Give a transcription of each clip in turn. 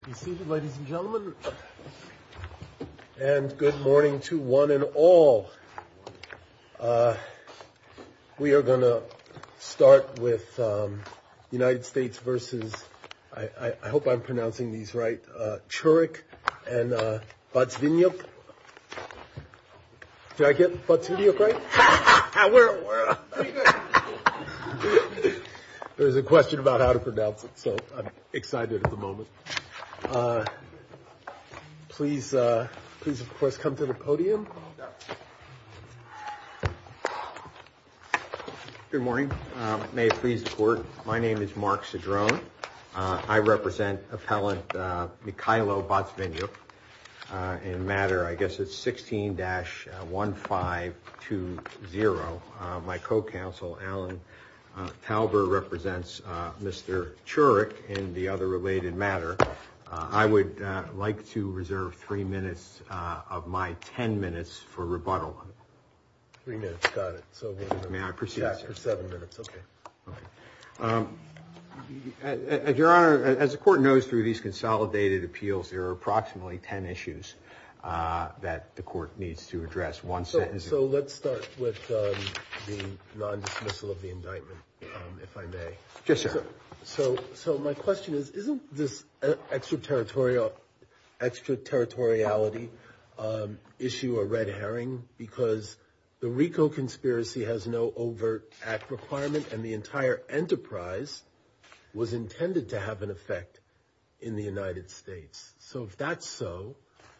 Good morning to one and all. We are going to start with United States versus, I hope I'm pronouncing these right, Churuk and Batsvinyuk. Did I get Batsvinyuk right? There's a question about how to pronounce it, so I'm excited at the moment. Please, of course, come to the podium. Mark Cedrone Good morning. May it please the Court, my name is Mark Cedrone. I represent Appellant Mikhailo Batsvinyuk in matter, I guess it's 16-1520. My co-counsel, Alan Talber, represents Mr. Churuk in the other related matter. I would like to reserve three minutes of my ten minutes for rebuttal. Your Honor, as the Court knows, through these consolidated appeals, there are approximately ten issues that the Court needs to address. One sentence... So let's start with the non-dismissal of the indictment, if I may. Yes, sir. So my question is, isn't this extraterritoriality issue a red herring? Because the RICO conspiracy has no overt act requirement, and the entire enterprise was in the United States. So if that's so,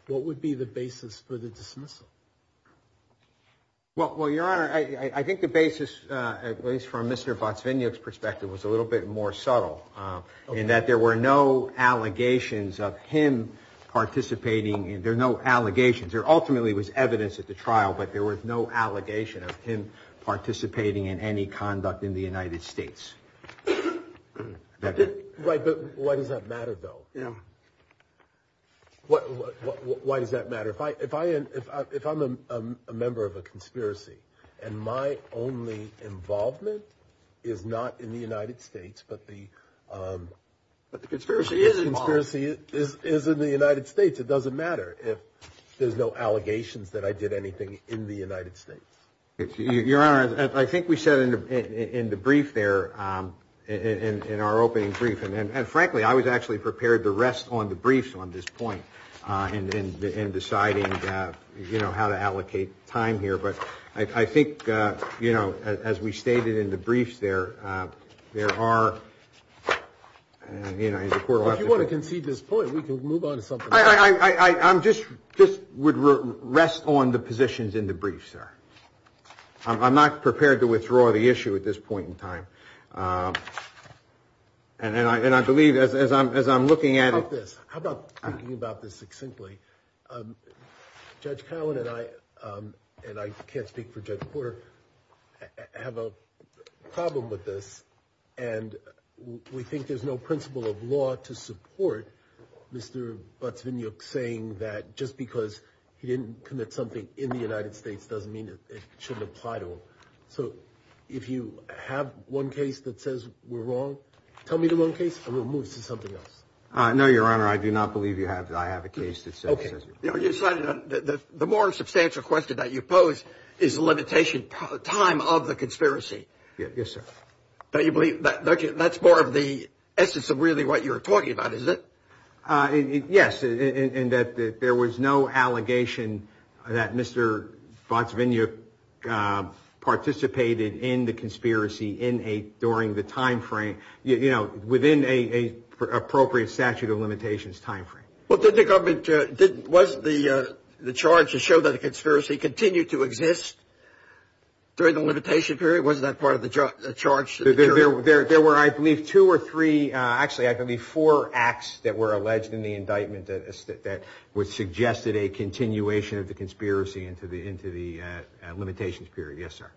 what would be the basis for the dismissal? Well, Your Honor, I think the basis, at least from Mr. Batsvinyuk's perspective, was a little bit more subtle, in that there were no allegations of him participating. There are no allegations. There ultimately was evidence at the trial, but there was no allegation of him participating in any of that. So why does that matter, though? Yeah. Why does that matter? If I'm a member of a conspiracy, and my only involvement is not in the United States, but the conspiracy is in the United States, it doesn't matter if there's no allegations that I did anything in the United States. Your Honor, I think we said in the brief there, in our opening brief, and frankly, I was actually prepared to rest on the briefs on this point, in deciding how to allocate time here. But I think, as we stated in the briefs there, there are, you know, as the Court will have to show. If you want to concede this point, we can move on to something else. I just would rest on the positions in the brief, sir. I'm not prepared to withdraw the issue at this point in time. And I believe, as I'm looking at it... How about this? How about thinking about this succinctly? Judge Cowan and I, and I can't speak for Judge Porter, have a problem with this, and we think there's no principle of law to support Mr. Butzvigniuk saying that just because he didn't commit something in the United States doesn't mean it shouldn't apply to him. So if you have one case that says we're wrong, tell me the wrong case, and we'll move to something else. No, Your Honor, I do not believe I have a case that says we're wrong. You know, the more substantial question that you pose is the limitation time of the conspiracy. Yes, sir. But you believe that's more of the essence of really what you're talking about, is it? Yes, in that there was no allegation that Mr. Butzvigniuk participated in the conspiracy in a... during the time frame... you know, within an appropriate statute of limitations time frame. Well, didn't the government... wasn't the charge to show that a conspiracy continued to exist during the limitation period? Wasn't that part of the charge? There were, I believe, two or three... actually, I believe four acts that were alleged in the indictment that would suggest that a continuation of the conspiracy into the limitations period. Yes, sir.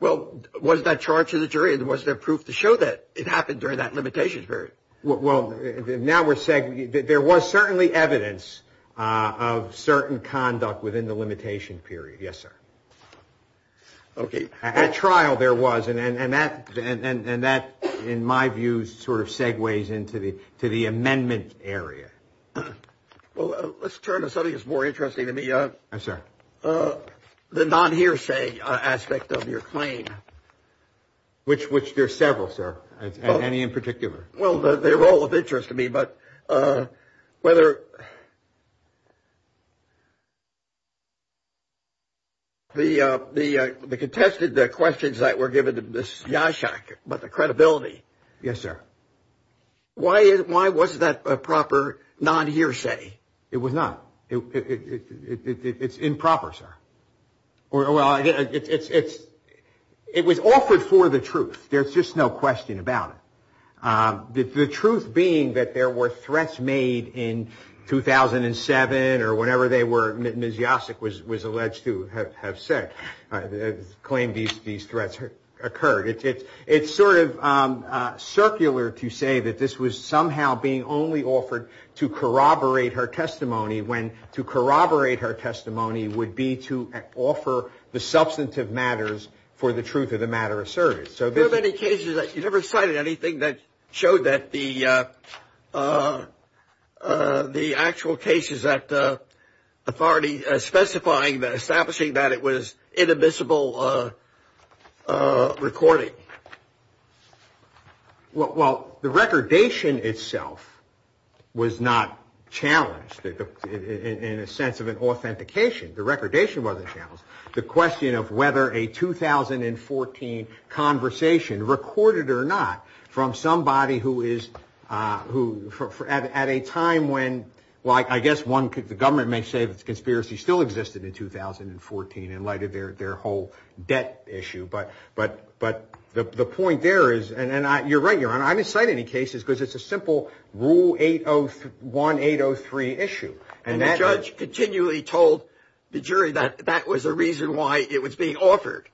Well, was that charge to the jury, and was there proof to show that it happened during that limitations period? Well, now we're saying that there was certainly evidence of certain conduct within the limitation period. Yes, sir. Okay. At trial there was, and that, in my view, sort of segues into the amendment area. Well, let's turn to something that's more interesting to me. Yes, sir. The non-hearsay aspect of your claim. Which there are several, sir, any in particular. Well, they're all of interest to me, but whether... The contested questions that were given to Ms. Jaschak about the credibility. Yes, sir. Why was that a proper non-hearsay? It was not. It's improper, sir. Well, it was offered for the truth. There's just no question about it. The truth being that there were threats made in 2007 or whenever they were, Ms. Jaschak was alleged to have said, claimed these threats occurred. It's sort of circular to say that this was somehow being only offered to corroborate her testimony, when to corroborate her testimony would be to offer the substantive matters for the truth of the matter of service. There are many cases that you never cited anything that showed that the actual cases that the authority specifying, that establishing that it was inadmissible recording. Well, the recordation itself was not challenged in a sense of an authentication. The recordation wasn't challenged. The question of whether a 2014 conversation, recorded or not, from somebody who is at a time when... Well, I guess the government may say that the conspiracy still existed in 2014 in light of their whole debt issue, but the point there is, and you're right, Your Honor, I didn't cite any cases because it's a simple Rule 801, 803 issue. And the judge continually told the jury that that was a reason why it was being offered.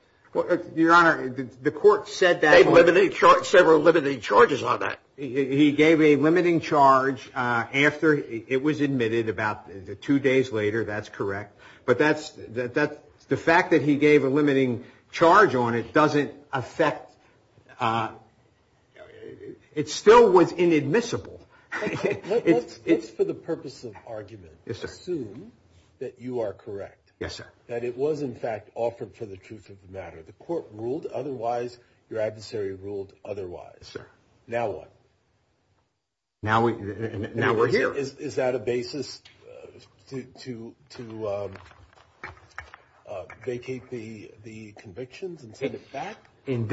Your Honor, the court said that... They've limited charges, several limiting charges on that. He gave a limiting charge after it was admitted about two days later, that's correct. But that's the fact that he gave a limiting charge on it doesn't affect, it still was inadmissible. It's for the purpose of argument. Assume that you are correct. Yes, sir. That it was, in fact, offered for the truth of the matter. The court ruled otherwise, your adversary ruled otherwise. Sir. Now what? Now we're here. Is that a basis to vacate the convictions and send it back? In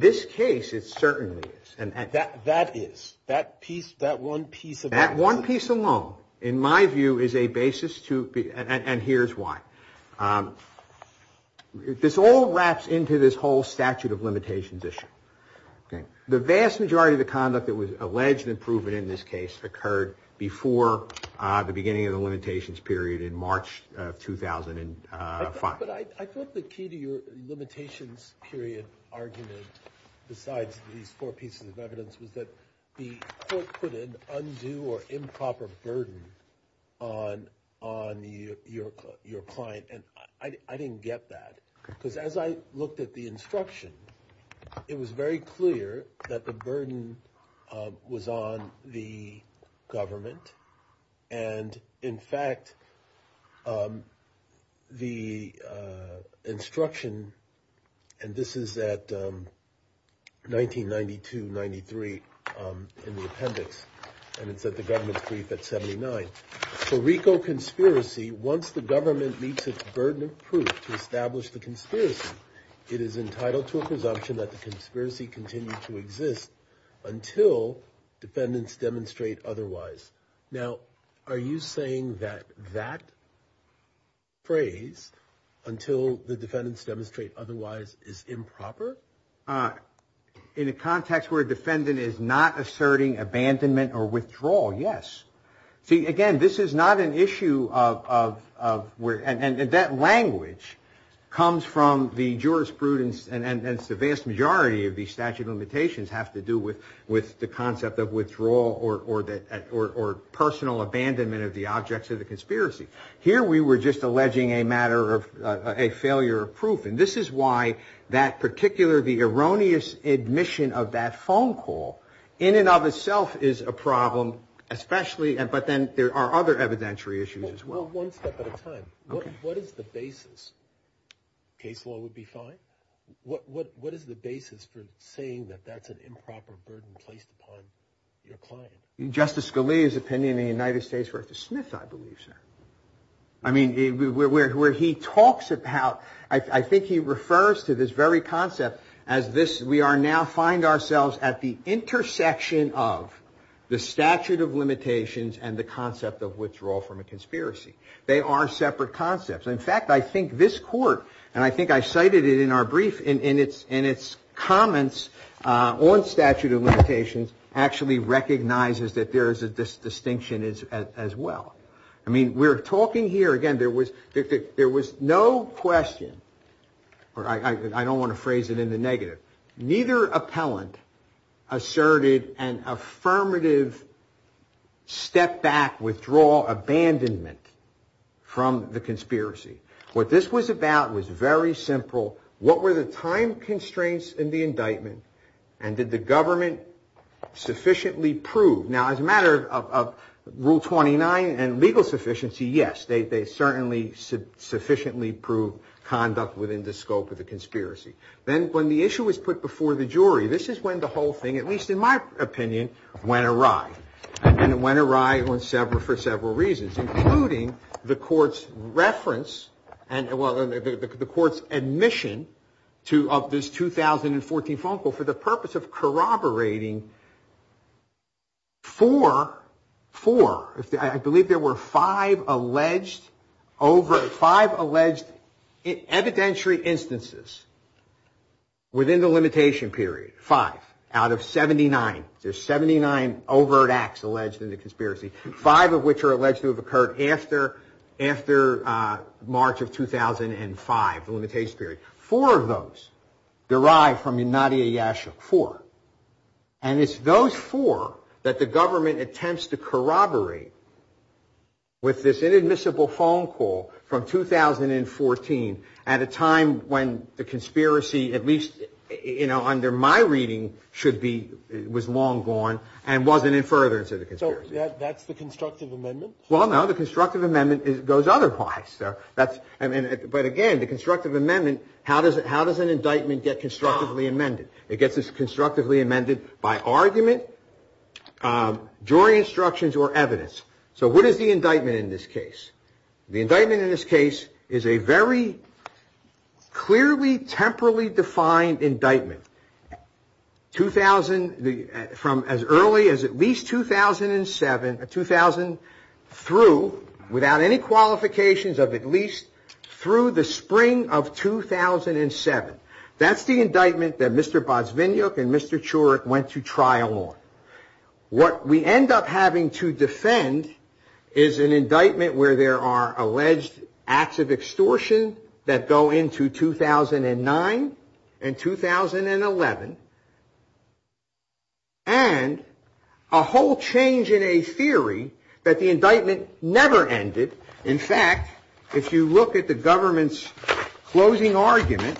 this case, it certainly is. That is, that piece, that one piece of... That one piece alone, in my view, is a basis to, and here's why. This all wraps into this whole statute of limitations issue. The vast majority of the conduct that was alleged and proven in this case occurred before the beginning of the limitations period in March of 2005. But I thought the key to your limitations period argument, besides these four pieces of evidence, was that the court put an undue or improper burden on your client. And I didn't get that, because as I looked at the instruction, it was very clear that the burden was on the government. And in fact, the instruction, and this is at 1992-93 in the appendix, and it's at the government's brief at 79, for RICO conspiracy, once the government meets its burden of proof to establish the conspiracy, it is entitled to a presumption that the conspiracy continued to exist until defendants demonstrate otherwise. Now, are you saying that that phrase, until the defendants demonstrate otherwise, is improper? In a context where a defendant is not asserting abandonment or withdrawal, yes. See, again, this is not an issue of, and that language comes from the jurisprudence, and it's the vast majority of these statute of limitations have to do with the concept of withdrawal or personal abandonment of the objects of the conspiracy. Here we were just alleging a matter of, a failure of proof, and this is why that particular, the erroneous admission of that phone call, in and of itself is a problem, especially, but then there are other evidentiary issues as well. Well, one step at a time, what is the basis, case law would be fine, what is the basis for saying that that's an improper burden placed upon your client? Justice Scalia's opinion in the United States, where the Smith, I believe, sir, I mean, where he talks about, I think he refers to this very concept as this, we are now find ourselves at the intersection of the statute of limitations and the concept of withdrawal from a conspiracy. They are separate concepts, in fact, I think this court, and I think I cited it in our brief in its comments on statute of limitations, actually recognizes that there is a distinction as well. I mean, we are talking here, again, there was no question, or I don't want to phrase it in the negative, neither appellant asserted an affirmative step back, withdrawal, abandonment from the conspiracy. What this was about was very simple, what were the time constraints in the indictment, and did the government sufficiently prove? Now, as a matter of rule 29 and legal sufficiency, yes, they certainly sufficiently proved conduct within the scope of the conspiracy. Then, when the issue was put before the jury, this is when the whole thing, at least in my opinion, went awry. And it went awry for several reasons, including the court's admission of this 2014 phone call for the purpose of corroborating four, I believe there were five alleged evidentiary instances within the limitation period, five out of 79. There's 79 overt acts alleged in the conspiracy, five of which are alleged to have occurred after March of 2005, the limitation period. Four of those derived from Nadia Yashuk, four. And it's those four that the government attempts to corroborate with this inadmissible phone call from 2014 at a time when the conspiracy, at least, you know, under my reading, should be, was long gone and wasn't in furtherance of the conspiracy. So that's the constructive amendment? Well, no, the constructive amendment goes otherwise. But again, the constructive amendment, how does an indictment get constructively amended? It gets it constructively amended by argument, jury instructions, or evidence. So what is the indictment in this case? The indictment in this case is a very clearly, temporally defined indictment, 2000, from as early as at least 2007, 2000 through, without any qualifications of at least through the spring of 2007. That's the indictment that Mr. Bozviniuk and Mr. Churik went to trial on. What we end up having to defend is an indictment where there are alleged acts of extortion that go into 2009 and 2011, and a whole change in a theory that the indictment never ended. In fact, if you look at the government's closing argument.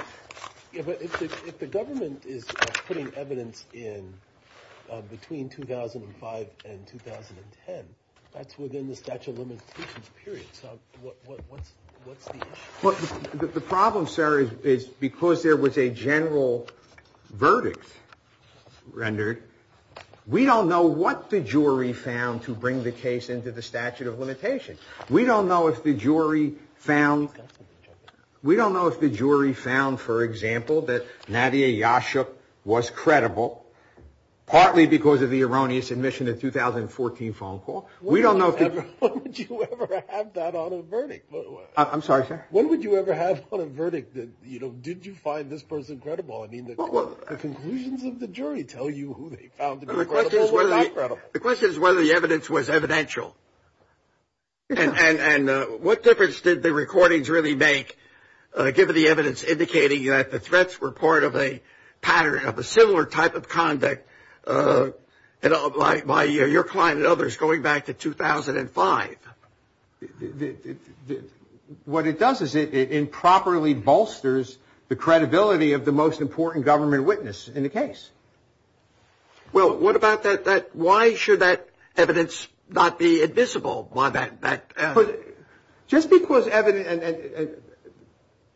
But if the government is putting evidence in between 2005 and 2010, that's within the statute of limitations period. So what's the issue? The problem, sir, is because there was a general verdict rendered, we don't know what the jury found to bring the case into the statute of limitation. We don't know if the jury found, for example, that Nadia Yashuk was credible, partly because of the erroneous admission in 2014 phone call. When would you ever have that on a verdict? I'm sorry, sir? When would you ever have on a verdict that, you know, did you find this person credible? I mean, the conclusions of the jury tell you who they found to be credible or not credible. The question is whether the evidence was evidential. And what difference did the recordings really make, given the evidence indicating that the threats were part of a pattern of a similar type of conduct, you know, by your client and others going back to 2005? What it does is it improperly bolsters the credibility of the most important government witness in the case. Well, what about that, why should that evidence not be admissible by that? Just because evidence,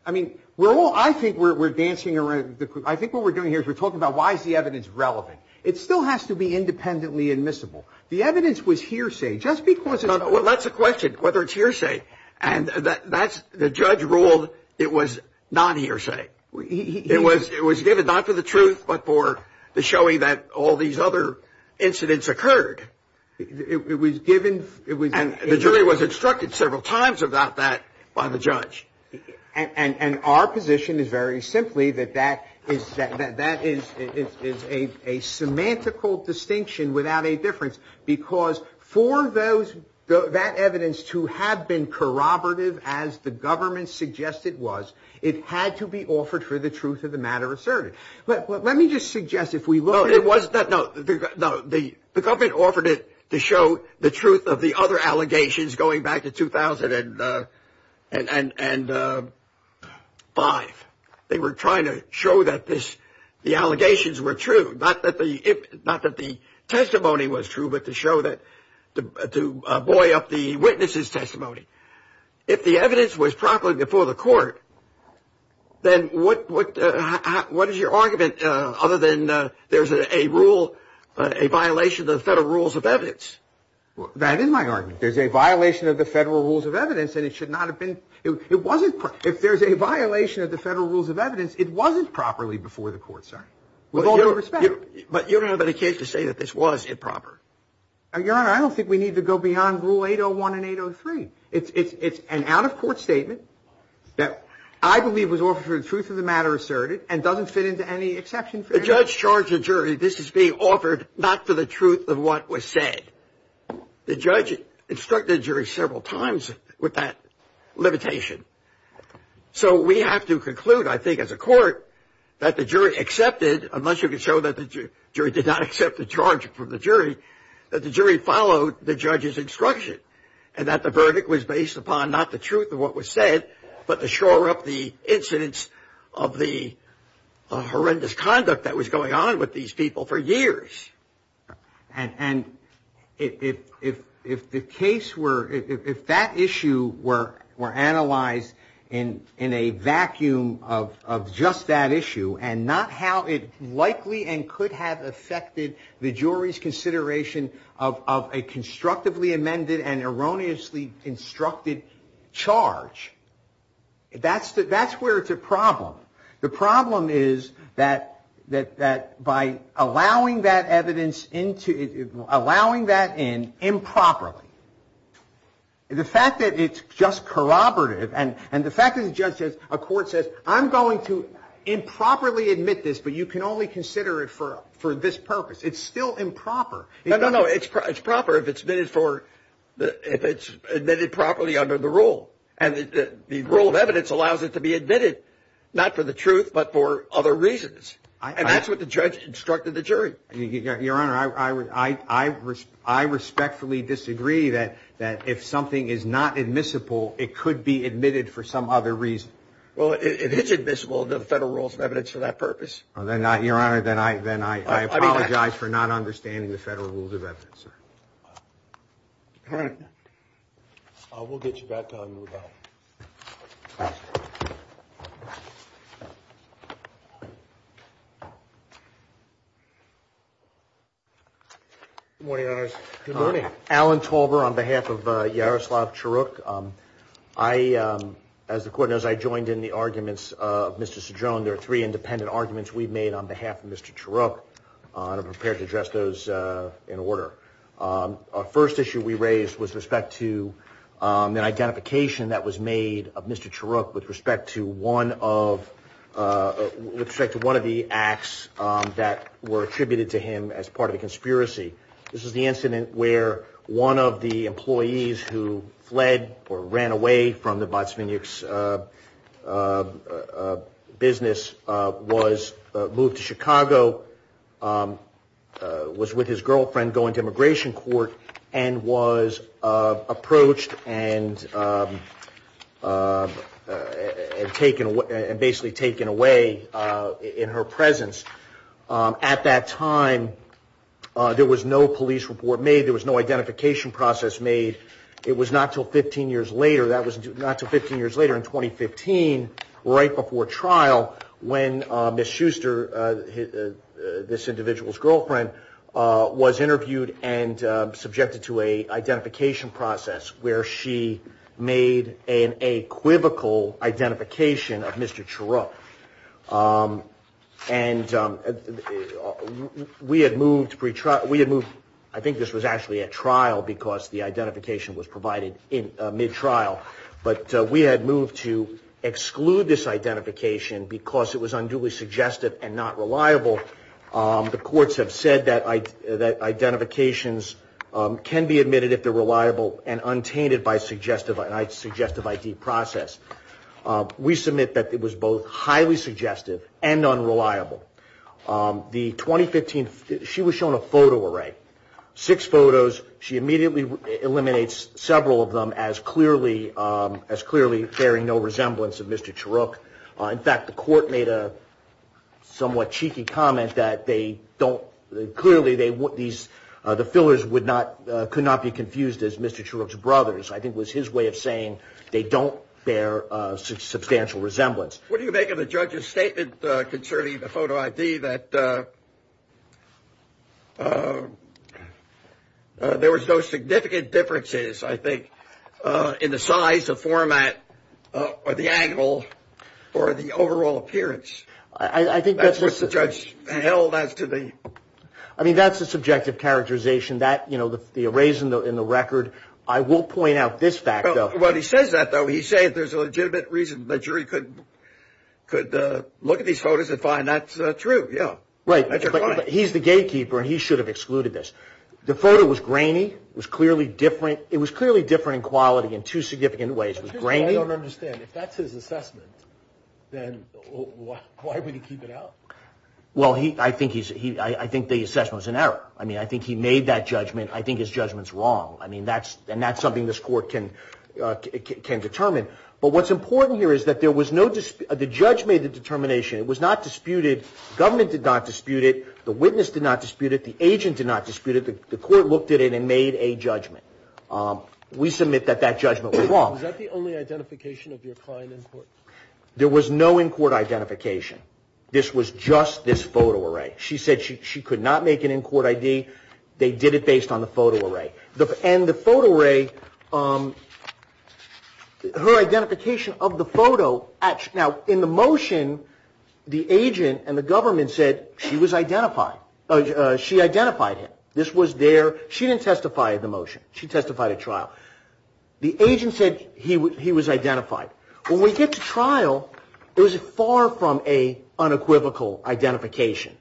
I mean, we're all, I think we're dancing around, I think what we're doing here is we're talking about why is the evidence relevant. It still has to be independently admissible. The evidence was hearsay just because it's. Well, that's the question, whether it's hearsay. And that's, the judge ruled it was non-hearsay. It was given not for the truth, but for the showing that all these other incidents occurred. It was given. And the jury was instructed several times about that by the judge. And our position is very simply that that is a semantical distinction without a difference. Because for those, that evidence to have been corroborative as the government suggested was, it had to be offered for the truth of the matter asserted. But let me just suggest if we look. No, the government offered it to show the truth of the other allegations going back to 2005. They were trying to show that this, the allegations were true. Not that the testimony was true, but to show that, to buoy up the witness's testimony. If the evidence was properly before the court, then what is your argument other than there's a rule, a violation of the federal rules of evidence? That is my argument. There's a violation of the federal rules of evidence, and it should not have been. It wasn't. If there's a violation of the federal rules of evidence, it wasn't properly before the court, sir. With all due respect. But you don't have any case to say that this was improper. Your Honor, I don't think we need to go beyond Rule 801 and 803. It's an out-of-court statement that I believe was offered for the truth of the matter asserted and doesn't fit into any exception. The judge charged the jury this is being offered not for the truth of what was said. The judge instructed the jury several times with that limitation. So we have to conclude, I think, as a court, that the jury accepted, unless you can show that the jury did not accept the charge from the jury, that the jury followed the judge's instruction and that the verdict was based upon not the truth of what was said, but to shore up the incidence of the horrendous conduct that was going on with these people for years. And if the case were, if that issue were analyzed in a vacuum of just that issue and not how it likely and could have affected the jury's consideration of a constructively amended and erroneously instructed charge, that's where it's a problem. The problem is that by allowing that evidence into, allowing that in improperly, the fact that it's just corroborative and the fact that the judge says, a court says, I'm going to improperly admit this, but you can only consider it for this purpose. It's still improper. No, no, no, it's proper if it's admitted for, if it's admitted properly under the rule. And the rule of evidence allows it to be admitted, not for the truth, but for other reasons. And that's what the judge instructed the jury. Your Honor, I respectfully disagree that if something is not admissible, it could be admitted for some other reason. Well, if it's admissible, the federal rules of evidence for that purpose. Then I, Your Honor, then I apologize for not understanding the federal rules of evidence. All right. We'll get you back to him and move on. Good morning, Your Honors. Good morning. Alan Tolber on behalf of Yaroslav Churuk. I, as the court knows, I joined in the arguments of Mr. Cedrone. There are three independent arguments we've made on behalf of Mr. Churuk. And I'm prepared to address those in order. Our first issue we raised was with respect to an identification that was made of Mr. Churuk with respect to one of, with respect to one of the acts that were attributed to him as part of a conspiracy. This is the incident where one of the employees who fled or ran away from the Botsvinniks business was moved to Chicago, was with his girlfriend going to immigration court, and was approached and taken away, and basically taken away in her presence. At that time, there was no police report made. There was no identification process made. It was not until 15 years later, that was not until 15 years later, in 2015, right before trial, when Ms. Schuster, this individual's girlfriend, was interviewed and subjected to a identification process where she made an equivocal identification of Mr. Churuk. And we had moved, I think this was actually at trial because the identification was provided mid-trial, but we had moved to exclude this identification because it was unduly suggestive and not reliable. The courts have said that identifications can be admitted if they're reliable and untainted by suggestive ID process. We submit that it was both highly suggestive and unreliable. The 2015, she was shown a photo array, six photos. She immediately eliminates several of them as clearly bearing no resemblance of Mr. Churuk. In fact, the court made a somewhat cheeky comment that they don't, clearly the fillers could not be confused as Mr. Churuk's brothers. I think it was his way of saying they don't bear substantial resemblance. What do you make of the judge's statement concerning the photo ID that there was no significant differences, I think, in the size, the format, or the angle, or the overall appearance? I think that's just what the judge held as to the... I mean, that's a subjective characterization. That, you know, the arrays in the record, I will point out this fact, though. Well, he says that, though. He's saying there's a legitimate reason the jury could look at these photos and find that's true. Yeah, that's your point. Right, but he's the gatekeeper, and he should have excluded this. The photo was grainy. It was clearly different. It was clearly different in quality in two significant ways. It was grainy. I don't understand. If that's his assessment, then why would he keep it out? Well, I think the assessment was an error. I mean, I think he made that judgment. I think his judgment's wrong, and that's something this court can determine. But what's important here is that the judge made the determination. It was not disputed. The government did not dispute it. The witness did not dispute it. The agent did not dispute it. The court looked at it and made a judgment. We submit that that judgment was wrong. Was that the only identification of your client in court? There was no in-court identification. This was just this photo array. She said she could not make an in-court ID. They did it based on the photo array. And the photo array, her identification of the photo. Now, in the motion, the agent and the government said she was identified. She identified him. This was there. She didn't testify at the motion. She testified at trial. The agent said he was identified. When we get to trial, it was far from an unequivocal identification.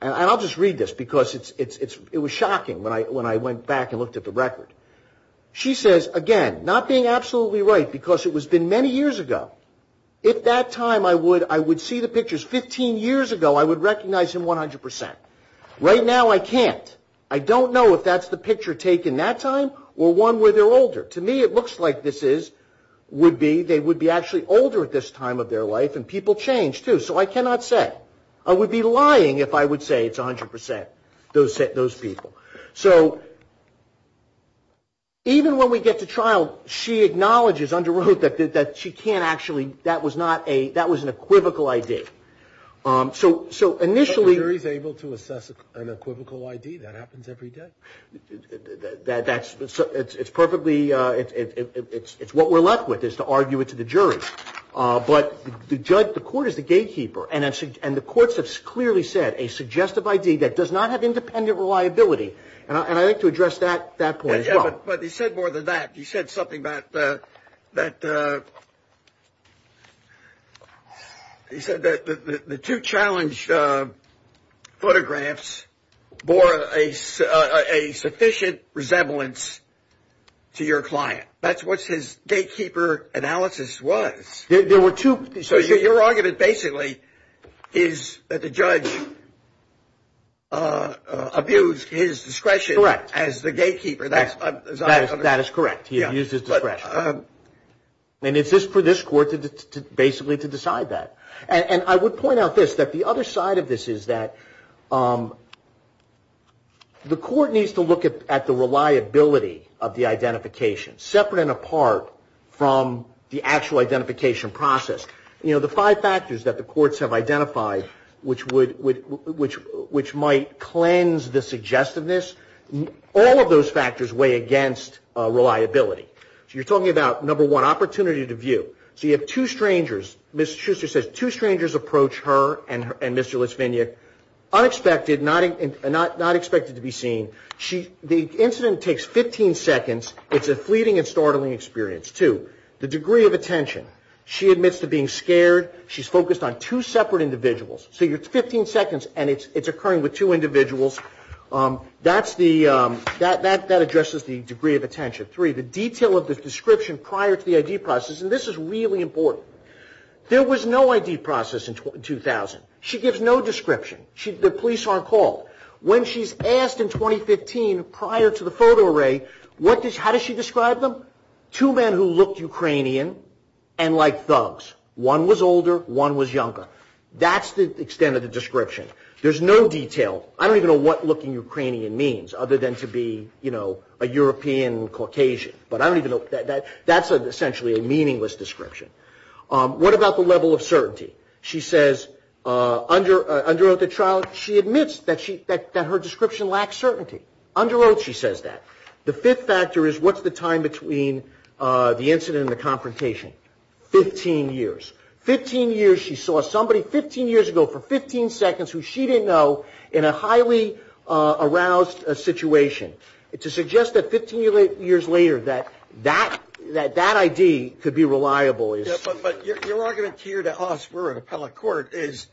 And I'll just read this because it was shocking when I went back and looked at the record. She says, again, not being absolutely right because it was been many years ago. If that time I would see the pictures 15 years ago, I would recognize him 100%. Right now, I can't. I don't know if that's the picture taken that time or one where they're older. To me, it looks like this is, would be, they would be actually older at this time of their life. And people change, too. So I cannot say. I would be lying if I would say it's 100% those people. So even when we get to trial, she acknowledges under oath that she can't actually, that was not a, that was an equivocal ID. So initially. The jury is able to assess an equivocal ID. That happens every day. That's, it's perfectly, it's what we're left with is to argue it to the jury. But the judge, the court is the gatekeeper. And the courts have clearly said a suggestive ID that does not have independent reliability. And I'd like to address that point as well. But he said more than that. He said something about that. He said that the two challenged photographs bore a sufficient resemblance to your client. That's what his gatekeeper analysis was. There were two. So your argument basically is that the judge abused his discretion as the gatekeeper. That is correct. He abused his discretion. And it's just for this court basically to decide that. And I would point out this, that the other side of this is that the court needs to look at the reliability of the identification separate and apart from the actual identification process. You know, the five factors that the courts have identified which would, which might cleanse the suggestiveness, all of those factors weigh against reliability. So you're talking about, number one, opportunity to view. So you have two strangers. Ms. Schuster says two strangers approach her and Mr. Lisvignik. Unexpected, not expected to be seen. The incident takes 15 seconds. It's a fleeting and startling experience. Two, the degree of attention. She admits to being scared. She's focused on two separate individuals. So you're 15 seconds and it's occurring with two individuals. That's the, that addresses the degree of attention. Three, the detail of the description prior to the ID process. And this is really important. There was no ID process in 2000. She gives no description. The police aren't called. When she's asked in 2015 prior to the photo array, what does, how does she describe them? Two men who looked Ukrainian and like thugs. One was older, one was younger. That's the extent of the description. There's no detail. I don't even know what looking Ukrainian means other than to be, you know, a European Caucasian. But I don't even know. That's essentially a meaningless description. What about the level of certainty? She says, under oath at trial, she admits that she, that her description lacks certainty. Under oath she says that. The fifth factor is what's the time between the incident and the confrontation? 15 years. 15 years she saw somebody 15 years ago for 15 seconds who she didn't know in a highly aroused situation. To suggest that 15 years later that that, that that ID could be reliable is. But your argument here to us, we're an appellate court, is,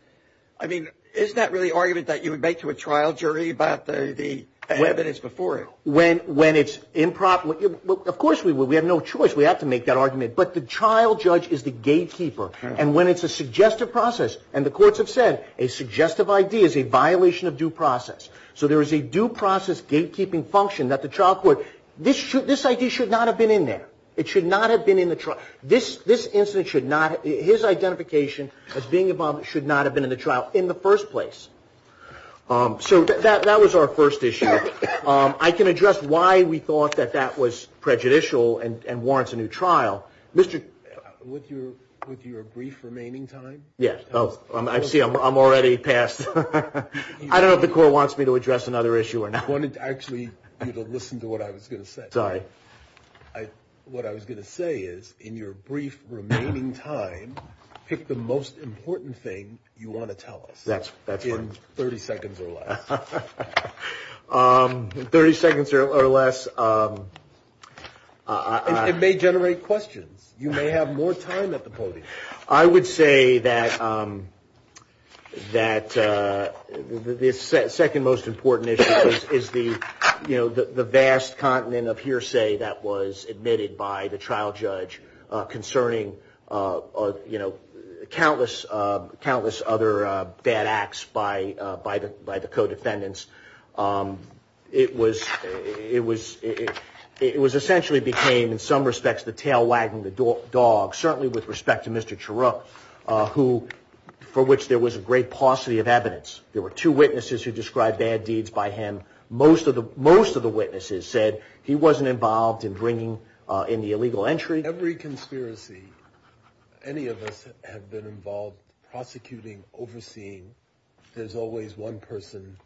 I mean, is that really an argument that you would make to a trial jury about the evidence before it? When, when it's improper. Of course we would. We have no choice. We have to make that argument. But the trial judge is the gatekeeper. And when it's a suggestive process, and the courts have said a suggestive ID is a violation of due process. So there is a due process gatekeeping function that the trial court, this should, this ID should not have been in there. It should not have been in the trial. This, this incident should not, his identification as being a bomb should not have been in the trial in the first place. So that, that was our first issue. I can address why we thought that that was prejudicial and warrants a new trial. Mr. With your, with your brief remaining time. Yes. I see I'm already past. I don't know if the court wants me to address another issue or not. I wanted to actually listen to what I was going to say. Sorry. I, what I was going to say is in your brief remaining time, pick the most important thing you want to tell us. That's, that's fine. In 30 seconds or less. 30 seconds or less. It may generate questions. You may have more time at the podium. I would say that, that the second most important issue is the, you know, the vast continent of hearsay that was admitted by the trial judge concerning, you know, countless, countless other bad acts by, by the, by the co-defendants. It was, it was, it was essentially became in some respects, the tail wagging the dog, certainly with respect to Mr. Chirrut, who, for which there was a great paucity of evidence. There were two witnesses who described bad deeds by him. Most of the, most of the witnesses said he wasn't involved in bringing in the illegal entry. Every conspiracy, any of us have been involved prosecuting, overseeing. There's always one person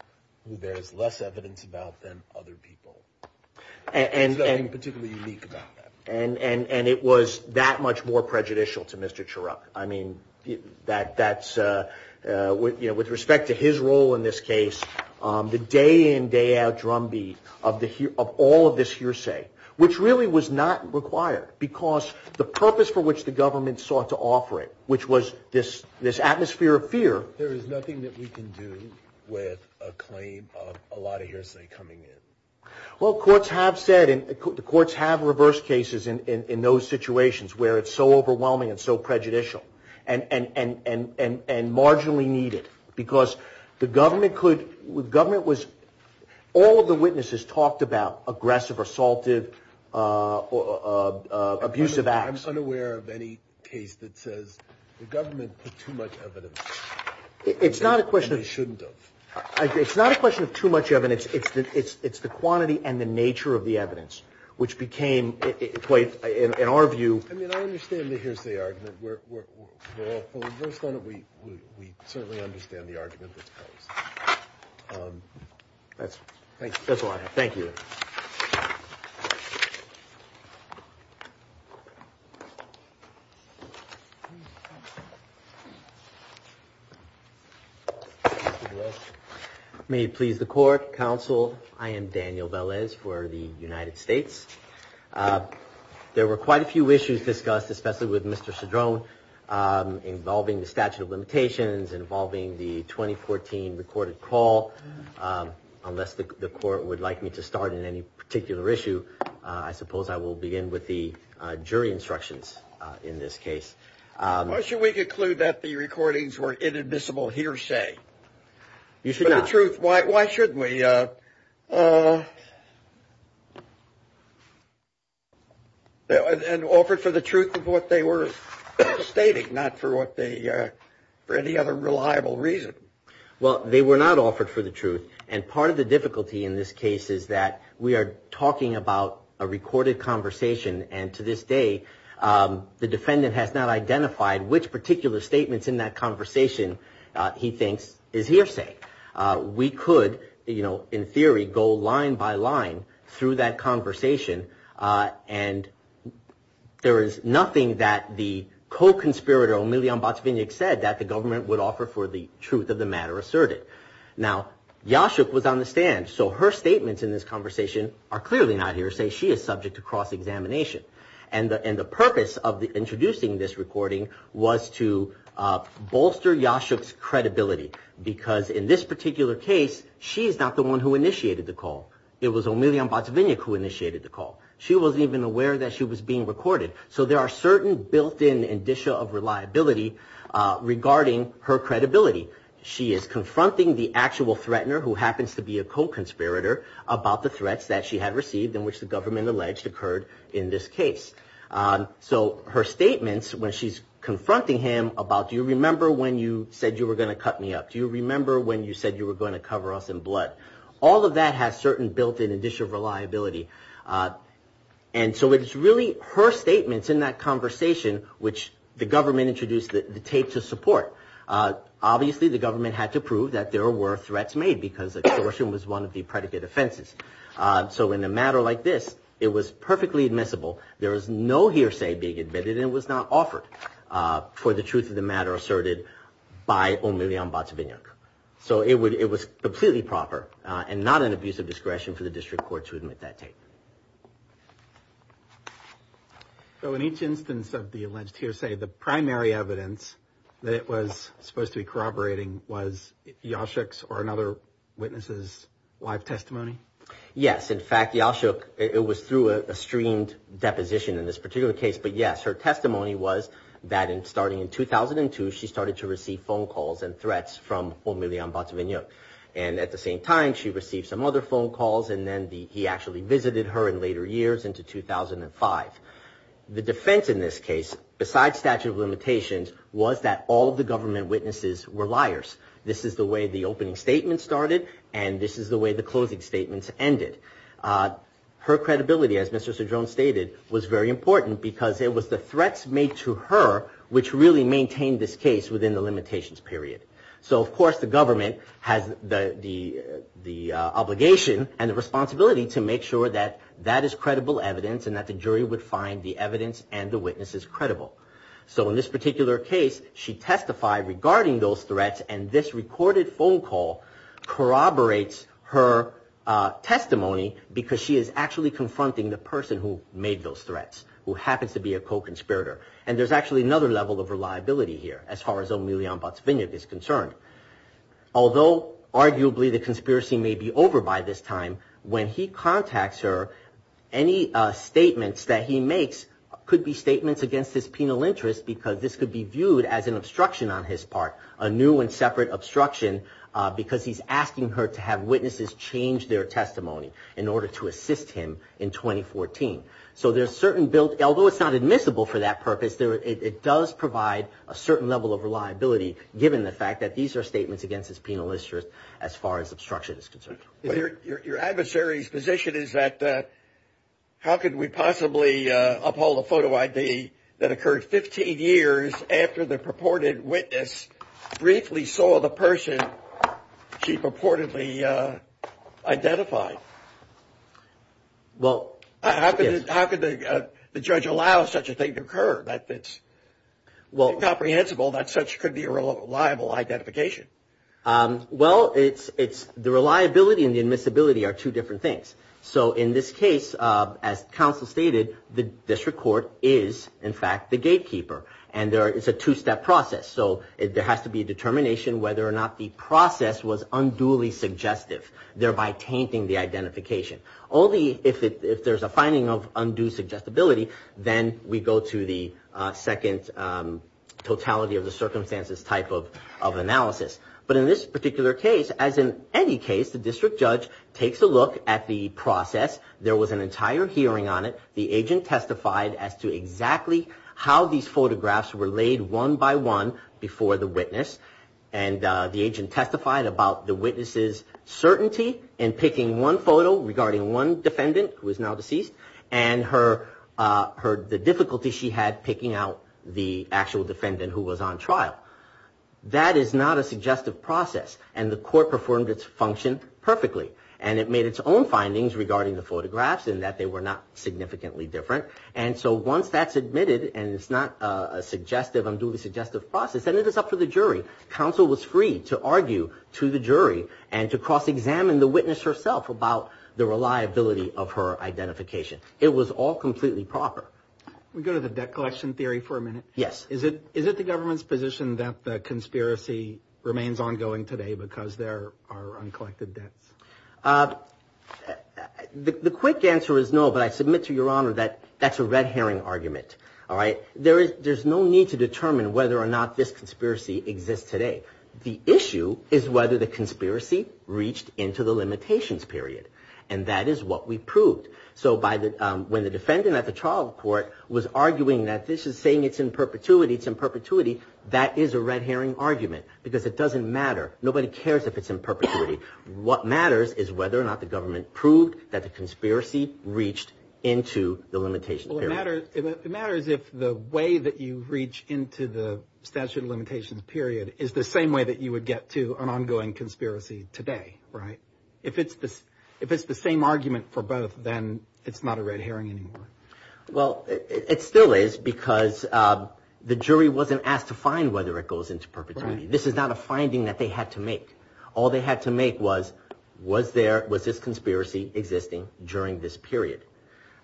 who there's less evidence about than other people. And, and, and particularly unique about that. And, and, and it was that much more prejudicial to Mr. I mean, that, that's, you know, with respect to his role in this case, the day in, day out drumbeat of the, of all of this hearsay, which really was not required because the purpose for which the government sought to offer it, which was this, this atmosphere of fear. There is nothing that we can do with a claim of a lot of hearsay coming in. Well, courts have said, and the courts have reversed cases in, in, in those situations where it's so overwhelming and so prejudicial and, and, and, and, and marginally needed. Because the government could, the government was, all of the witnesses talked about aggressive, assaultive, abusive acts. I'm unaware of any case that says the government put too much evidence. It's not a question of. And they shouldn't have. It's not a question of too much evidence. It's the, it's, it's the quantity and the nature of the evidence, which became quite, in our view. I mean, I understand the hearsay argument. We're, we're, we're, we're, we certainly understand the argument that's posed. That's, that's all I have. Thank you. Thank you. May it please the court, counsel. I am Daniel Velez for the United States. There were quite a few issues discussed, especially with Mr. Cedrone, involving the statute of limitations, involving the 2014 recorded call. Unless the court would like me to start in any particular issue, I suppose I will begin with the jury instructions in this case. Why should we conclude that the recordings were inadmissible hearsay? You should not. For the truth, why, why shouldn't we? And offered for the truth of what they were stating, not for what they, for any other reliable reason. Well, they were not offered for the truth. And part of the difficulty in this case is that we are talking about a recorded conversation. And to this day, the defendant has not identified which particular statements in that conversation he thinks is hearsay. We could, you know, in theory, go line by line through that conversation. And there is nothing that the co-conspirator, Omelion Botzvinnik, said that the government would offer for the truth of the matter asserted. Now, Yashuk was on the stand. So her statements in this conversation are clearly not hearsay. She is subject to cross-examination. And the purpose of introducing this recording was to bolster Yashuk's credibility. Because in this particular case, she is not the one who initiated the call. It was Omelion Botzvinnik who initiated the call. She wasn't even aware that she was being recorded. So there are certain built-in indicia of reliability regarding her credibility. She is confronting the actual threatener, who happens to be a co-conspirator, about the threats that she had received, in which the government alleged occurred in this case. So her statements, when she's confronting him about, do you remember when you said you were going to cut me up? Do you remember when you said you were going to cover us in blood? All of that has certain built-in indicia of reliability. And so it's really her statements in that conversation which the government introduced the tape to support. Obviously, the government had to prove that there were threats made because extortion was one of the predicate offenses. So in a matter like this, it was perfectly admissible. There was no hearsay being admitted, and it was not offered for the truth of the matter asserted by Omelion Botzvinnik. So it was completely proper and not an abuse of discretion for the district court to admit that tape. So in each instance of the alleged hearsay, the primary evidence that it was supposed to be corroborating was Yashuk's or another witness's live testimony? Yes. In fact, Yashuk, it was through a streamed deposition in this particular case. But yes, her testimony was that starting in 2002, she started to receive phone calls and threats from Omelion Botzvinnik. And at the same time, she received some other phone calls, and then he actually visited her in later years into 2005. The defense in this case, besides statute of limitations, was that all of the government witnesses were liars. This is the way the opening statements started, and this is the way the closing statements ended. Her credibility, as Mr. Cedrone stated, was very important because it was the threats made to her which really maintained this case within the limitations period. So of course the government has the obligation and the responsibility to make sure that that is credible evidence and that the jury would find the evidence and the witnesses credible. So in this particular case, she testified regarding those threats, and this recorded phone call corroborates her testimony because she is actually confronting the person who made those threats, who happens to be a co-conspirator. And there's actually another level of reliability here as far as Omelion Botzvinnik is concerned. Although arguably the conspiracy may be over by this time, when he contacts her, any statements that he makes could be statements against his penal interest because this could be viewed as an obstruction on his part, a new and separate obstruction, because he's asking her to have witnesses change their testimony in order to assist him in 2014. Although it's not admissible for that purpose, it does provide a certain level of reliability given the fact that these are statements against his penal interest as far as obstruction is concerned. Your adversary's position is that how could we possibly uphold a photo ID that occurred 15 years after the purported witness briefly saw the person she purportedly identified? How could the judge allow such a thing to occur? It's incomprehensible that such could be a reliable identification. Well, the reliability and the admissibility are two different things. So in this case, as counsel stated, the district court is, in fact, the gatekeeper. And it's a two-step process. So there has to be a determination whether or not the process was unduly suggestive, thereby tainting the identification. Only if there's a finding of undue suggestibility, then we go to the second totality of the circumstances type of analysis. But in this particular case, as in any case, the district judge takes a look at the process. There was an entire hearing on it. The agent testified as to exactly how these photographs were laid one by one before the witness. And the agent testified about the witness's certainty in picking one photo regarding one defendant, who is now deceased, and the difficulty she had picking out the actual defendant who was on trial. That is not a suggestive process, and the court performed its function perfectly. And it made its own findings regarding the photographs in that they were not significantly different. And so once that's admitted and it's not a suggestive, unduly suggestive process, then it is up to the jury. Counsel was free to argue to the jury and to cross-examine the witness herself about the reliability of her identification. It was all completely proper. We go to the debt collection theory for a minute. Yes. Is it the government's position that the conspiracy remains ongoing today because there are uncollected debts? The quick answer is no, but I submit to Your Honor that that's a red herring argument. There's no need to determine whether or not this conspiracy exists today. The issue is whether the conspiracy reached into the limitations period. And that is what we proved. So when the defendant at the trial court was arguing that this is saying it's in perpetuity, it's in perpetuity, that is a red herring argument because it doesn't matter. Nobody cares if it's in perpetuity. What matters is whether or not the government proved that the conspiracy reached into the limitations period. It matters if the way that you reach into the statute of limitations period is the same way that you would get to an ongoing conspiracy today, right? If it's the same argument for both, then it's not a red herring anymore. Well, it still is because the jury wasn't asked to find whether it goes into perpetuity. This is not a finding that they had to make. All they had to make was, was this conspiracy existing during this period?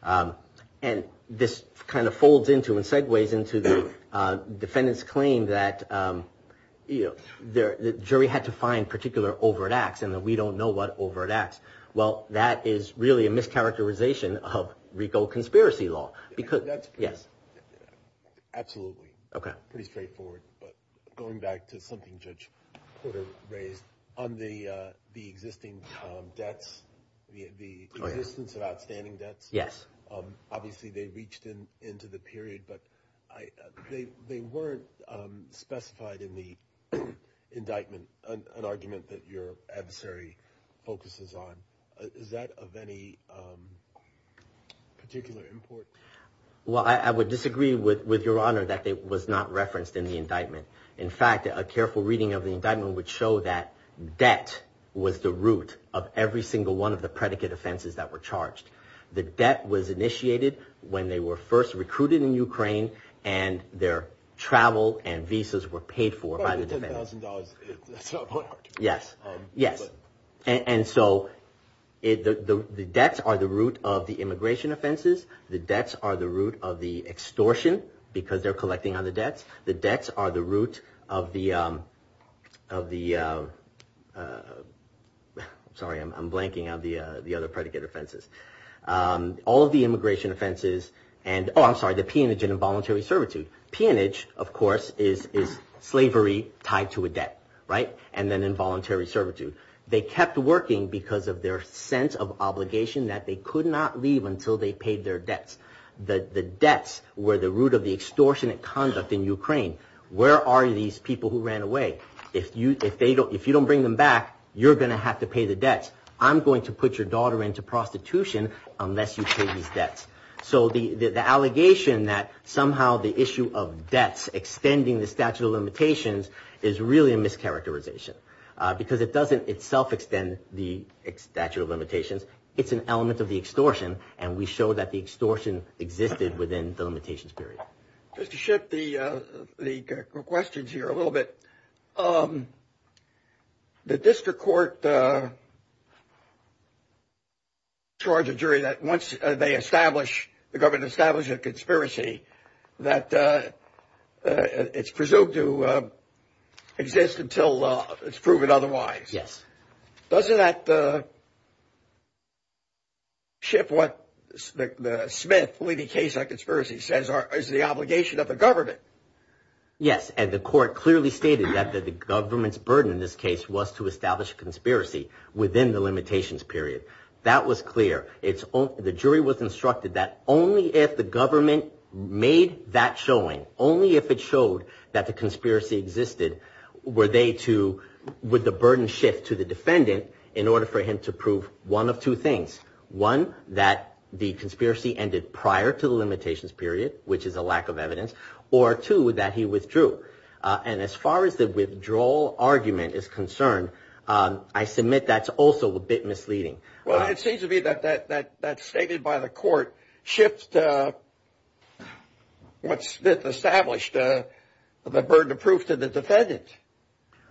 And this kind of folds into and segues into the defendant's claim that the jury had to find particular overt acts and that we don't know what overt acts. Well, that is really a mischaracterization of RICO conspiracy law. Yes. Absolutely. Pretty straightforward. Going back to something Judge Porter raised on the existing debts, the existence of outstanding debts. Yes. Obviously, they reached into the period, but they weren't specified in the indictment, an argument that your adversary focuses on. Is that of any particular importance? Well, I would disagree with your honor that it was not referenced in the indictment. In fact, a careful reading of the indictment would show that debt was the root of every single one of the predicate offenses that were charged. The debt was initiated when they were first recruited in Ukraine and their travel and visas were paid for by the defendant. $10,000, that's not a point. Yes. Yes. And so the debts are the root of the immigration offenses. The debts are the root of the extortion because they're collecting on the debts. The debts are the root of the, sorry, I'm blanking on the other predicate offenses. All of the immigration offenses and, oh, I'm sorry, the peonage and involuntary servitude. Peonage, of course, is slavery tied to a debt, right, and then involuntary servitude. They kept working because of their sense of obligation that they could not leave until they paid their debts. The debts were the root of the extortionate conduct in Ukraine. Where are these people who ran away? If you don't bring them back, you're going to have to pay the debts. I'm going to put your daughter into prostitution unless you pay these debts. So the allegation that somehow the issue of debts extending the statute of limitations is really a mischaracterization because it doesn't itself extend the statute of limitations. It's an element of the extortion, and we show that the extortion existed within the limitations period. Just to shift the questions here a little bit, the district court charged a jury that once they establish, the government established a conspiracy that it's presumed to exist until it's proven otherwise. Yes. Doesn't that shift what the Smith leading case on conspiracy says is the obligation of the government? Yes, and the court clearly stated that the government's burden in this case was to establish a conspiracy within the limitations period. That was clear. The jury was instructed that only if the government made that showing, only if it showed that the conspiracy existed, would the burden shift to the defendant in order for him to prove one of two things. One, that the conspiracy ended prior to the limitations period, which is a lack of evidence, or two, that he withdrew. And as far as the withdrawal argument is concerned, I submit that's also a bit misleading. Well, it seems to me that that stated by the court shifts to what Smith established, the burden of proof to the defendant.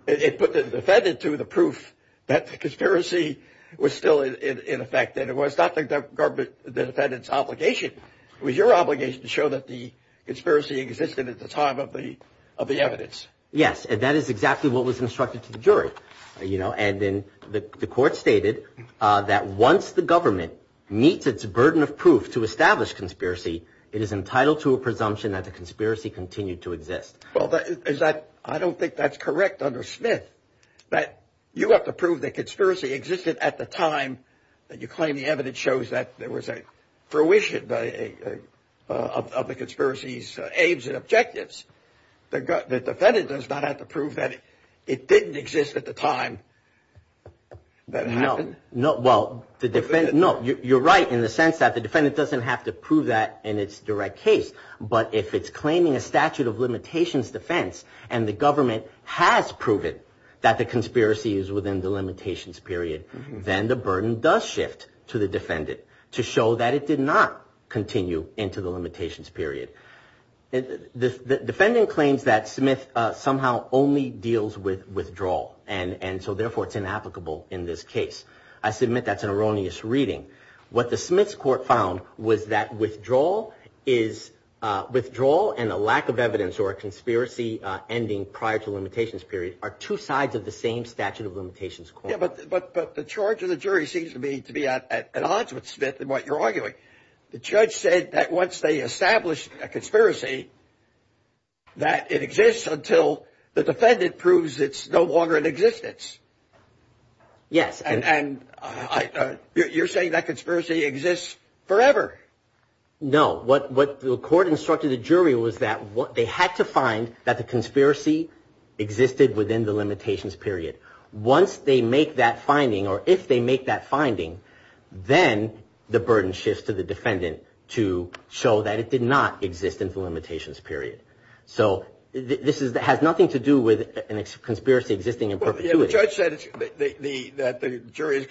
It put the defendant to the proof that the conspiracy was still in effect, and it was not the defendant's obligation. It was your obligation to show that the conspiracy existed at the time of the evidence. Yes, and that is exactly what was instructed to the jury. And then the court stated that once the government meets its burden of proof to establish conspiracy, it is entitled to a presumption that the conspiracy continued to exist. Well, I don't think that's correct under Smith. But you have to prove the conspiracy existed at the time that you claim the evidence shows that there was a fruition of the conspiracy's aims and objectives. The defendant does not have to prove that it didn't exist at the time that it happened. No, well, you're right in the sense that the defendant doesn't have to prove that in its direct case. But if it's claiming a statute of limitations defense and the government has proven that the conspiracy is within the limitations period, then the burden does shift to the defendant to show that it did not continue into the limitations period. The defendant claims that Smith somehow only deals with withdrawal. And so therefore, it's inapplicable in this case. I submit that's an erroneous reading. What the Smith's court found was that withdrawal is withdrawal and a lack of evidence or a conspiracy ending prior to limitations. Period are two sides of the same statute of limitations. But the charge of the jury seems to be to be at odds with Smith and what you're arguing. The judge said that once they established a conspiracy. That it exists until the defendant proves it's no longer in existence. Yes. And you're saying that conspiracy exists forever. No. What the court instructed the jury was that they had to find that the conspiracy existed within the limitations period. Once they make that finding or if they make that finding, then the burden shifts to the defendant to show that it did not exist in the limitations period. So this is that has nothing to do with a conspiracy existing in perpetuity. The judge said that the jury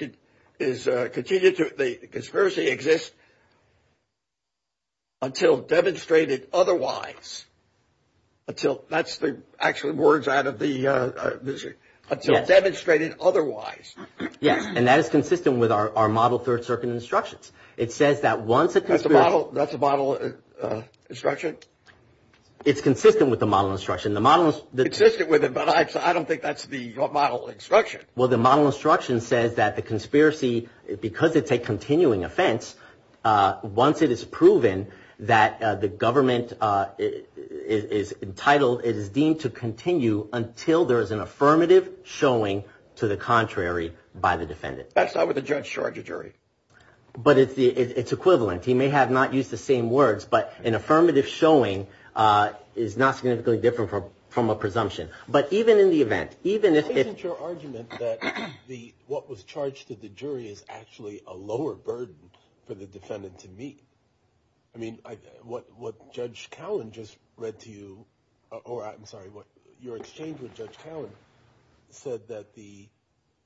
is continued to the conspiracy exists. Until demonstrated otherwise. Until that's the actual words out of the. Until demonstrated otherwise. Yes. And that is consistent with our model. Third Circuit instructions. It says that once it has a model, that's a model instruction. It's consistent with the model instruction. The model is consistent with it, but I don't think that's the model instruction. Well, the model instruction says that the conspiracy, because it's a continuing offense. Once it is proven that the government is entitled, it is deemed to continue until there is an affirmative showing to the contrary by the defendant. That's not what the judge charged a jury. But it's the it's equivalent. He may have not used the same words, but an affirmative showing is not significantly different from a presumption. But even in the event, even if it's your argument that the what was charged to the jury is actually a lower burden for the defendant to meet. I mean, what what Judge Cowan just read to you or I'm sorry, what your exchange with Judge Cowan said that the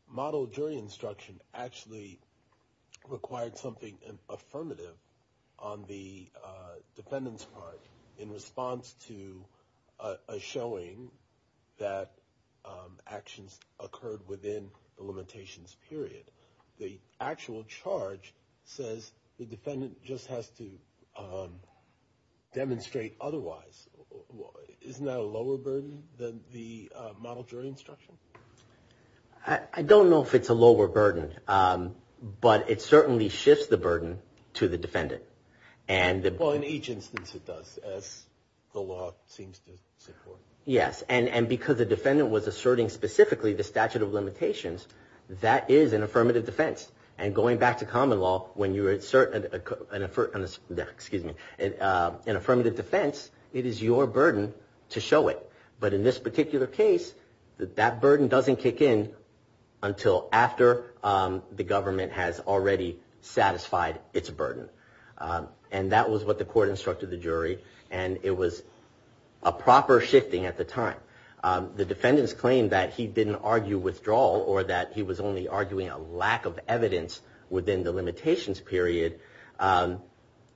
model jury instruction actually required something affirmative on the defendant's part in response to a showing that actions occurred within the limitations period. The actual charge says the defendant just has to demonstrate otherwise. Isn't that a lower burden than the model jury instruction? I don't know if it's a lower burden, but it certainly shifts the burden to the defendant. Well, in each instance it does, as the law seems to support. Yes. And because the defendant was asserting specifically the statute of limitations, that is an affirmative defense. And going back to common law, when you insert an excuse me, an affirmative defense, it is your burden to show it. But in this particular case, that burden doesn't kick in until after the government has already satisfied its burden. And that was what the court instructed the jury. And it was a proper shifting at the time. The defendant's claim that he didn't argue withdrawal or that he was only arguing a lack of evidence within the limitations period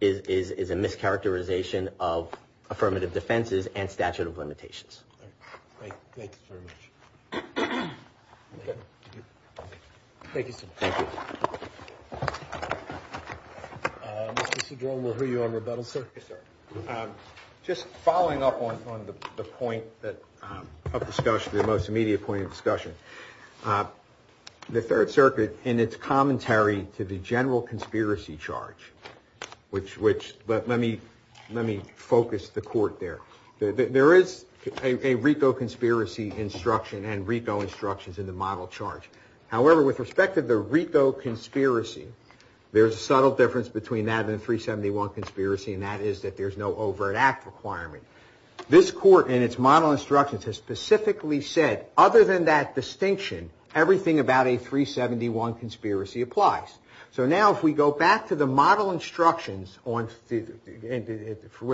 is a mischaracterization of affirmative defenses and statute of limitations. Thank you very much. Mr. Cedrone, we'll hear you on rebuttal. Just following up on the point of discussion, the most immediate point of discussion, the Third Circuit in its commentary to the general conspiracy charge, which let me focus the court there. There is a RICO conspiracy instruction and RICO instructions in the model charge. However, with respect to the RICO conspiracy, there's a subtle difference between that and the 371 conspiracy, and that is that there's no overt act requirement. This court, in its model instructions, has specifically said, other than that distinction, everything about a 371 conspiracy applies. So now if we go back to the model instructions with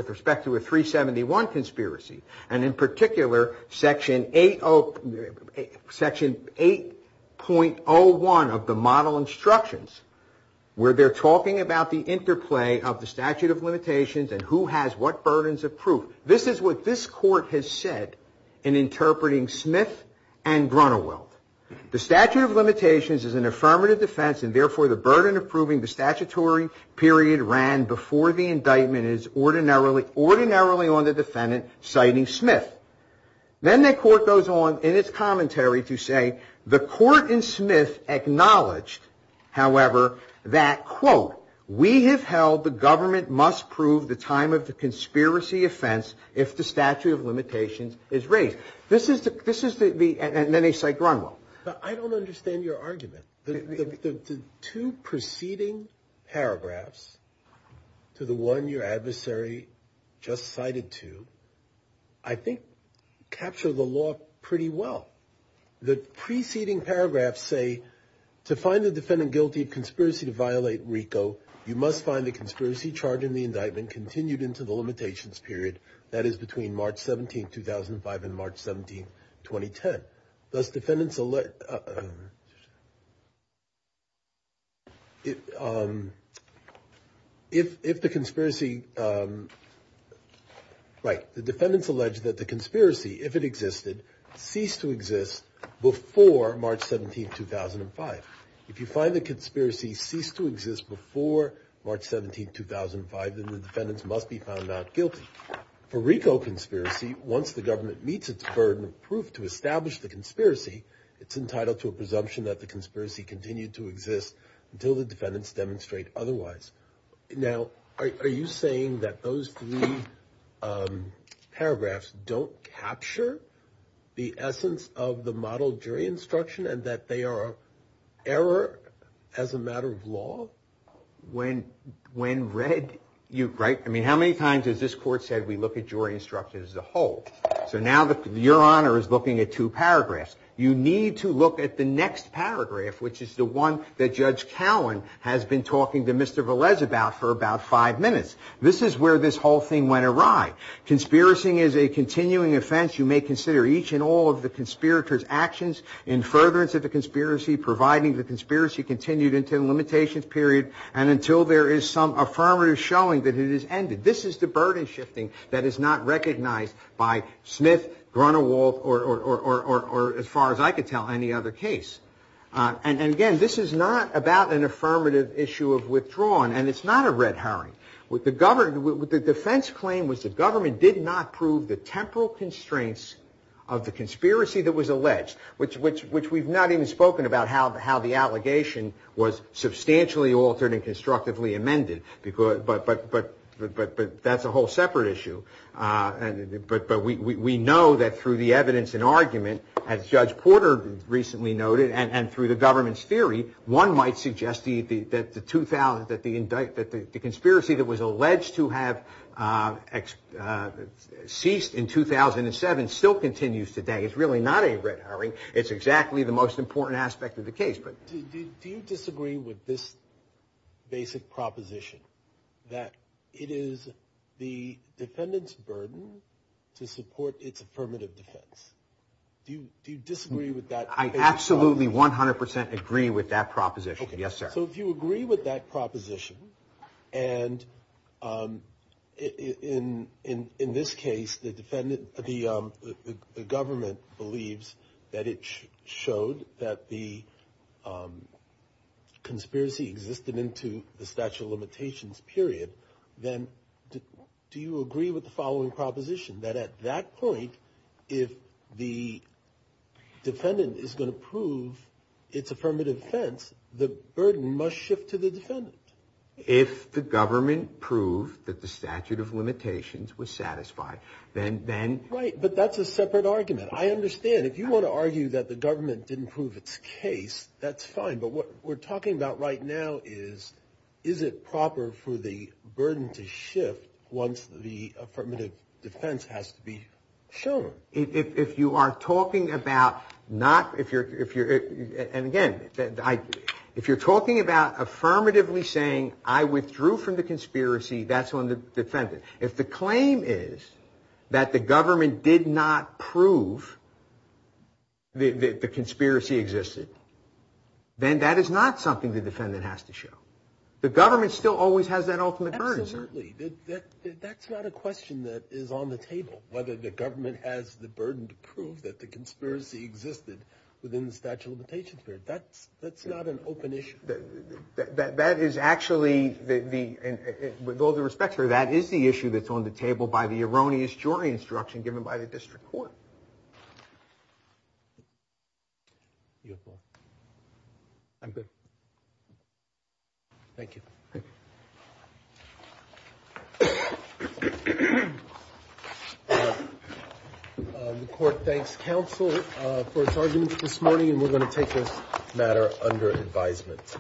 respect to a 371 conspiracy, and in particular, Section 8.01 of the model instructions, where they're talking about the interplay of the statute of limitations and who has what burdens of proof. This is what this court has said in interpreting Smith and Grunewald. The statute of limitations is an affirmative defense, and therefore, the burden of proving the statutory period ran before the indictment is ordinarily on the defendant, citing Smith. Then the court goes on in its commentary to say, the court in Smith acknowledged, however, that, quote, we have held the government must prove the time of the conspiracy offense if the statute of limitations is raised. This is the, and then they cite Grunewald. I don't understand your argument. The two preceding paragraphs to the one your adversary just cited to, I think, capture the law pretty well. The preceding paragraphs say, to find the defendant guilty of conspiracy to violate RICO, you must find the conspiracy charge in the indictment continued into the limitations period, that is, between March 17, 2005 and March 17, 2010. Does defendants, if the conspiracy, right, the defendants allege that the conspiracy, if it existed, ceased to exist before March 17, 2005. If you find the conspiracy ceased to exist before March 17, 2005, then the defendants must be found out guilty. For RICO conspiracy, once the government meets its burden of proof to establish the conspiracy, it's entitled to a presumption that the conspiracy continued to exist until the defendants demonstrate otherwise. Now, are you saying that those three paragraphs don't capture the essence of the model jury instruction and that they are error as a matter of law? When read, you, right, I mean, how many times has this court said we look at jury instructions as a whole? So now your honor is looking at two paragraphs. You need to look at the next paragraph, which is the one that Judge Cowan has been talking to Mr. Velez about for about five minutes. This is where this whole thing went awry. Conspiracy is a continuing offense. You may consider each and all of the conspirators' actions in furtherance of the conspiracy, providing the conspiracy continued until the limitations period and until there is some affirmative showing that it has ended. This is the burden shifting that is not recognized by Smith, Grunewald, or as far as I could tell, any other case. And again, this is not about an affirmative issue of withdrawal, and it's not a red herring. The defense claim was the government did not prove the temporal constraints of the conspiracy that was alleged, which we've not even spoken about how the allegation was substantially altered and constructively amended. But that's a whole separate issue. But we know that through the evidence and argument, as Judge Porter recently noted, and through the government's theory, one might suggest that the conspiracy that was alleged to have ceased in 2007 still continues today. It's really not a red herring. It's exactly the most important aspect of the case. Do you disagree with this basic proposition that it is the defendant's burden to support its affirmative defense? Do you disagree with that? I absolutely 100% agree with that proposition. Yes, sir. So if you agree with that proposition, and in this case, the government believes that it showed that the conspiracy existed into the statute of limitations period, then do you agree with the following proposition, that at that point, if the defendant is going to prove its affirmative defense, the burden must shift to the defendant? If the government proved that the statute of limitations was satisfied, then... Right, but that's a separate argument. I understand. If you want to argue that the government didn't prove its case, that's fine. But what we're talking about right now is, is it proper for the burden to shift once the affirmative defense has to be shown? If you are talking about not... And again, if you're talking about affirmatively saying, I withdrew from the conspiracy, that's on the defendant. If the claim is that the government did not prove the conspiracy existed, then that is not something the defendant has to show. The government still always has that ultimate burden. Absolutely. That's not a question that is on the table, whether the government has the burden to prove that the conspiracy existed within the statute of limitations period. That's not an open issue. That is actually the... With all due respect, sir, that is the issue that's on the table by the erroneous jury instruction given by the district court. I'm good. Thank you. The court thanks counsel for its arguments this morning, and we're going to take this matter under advisement.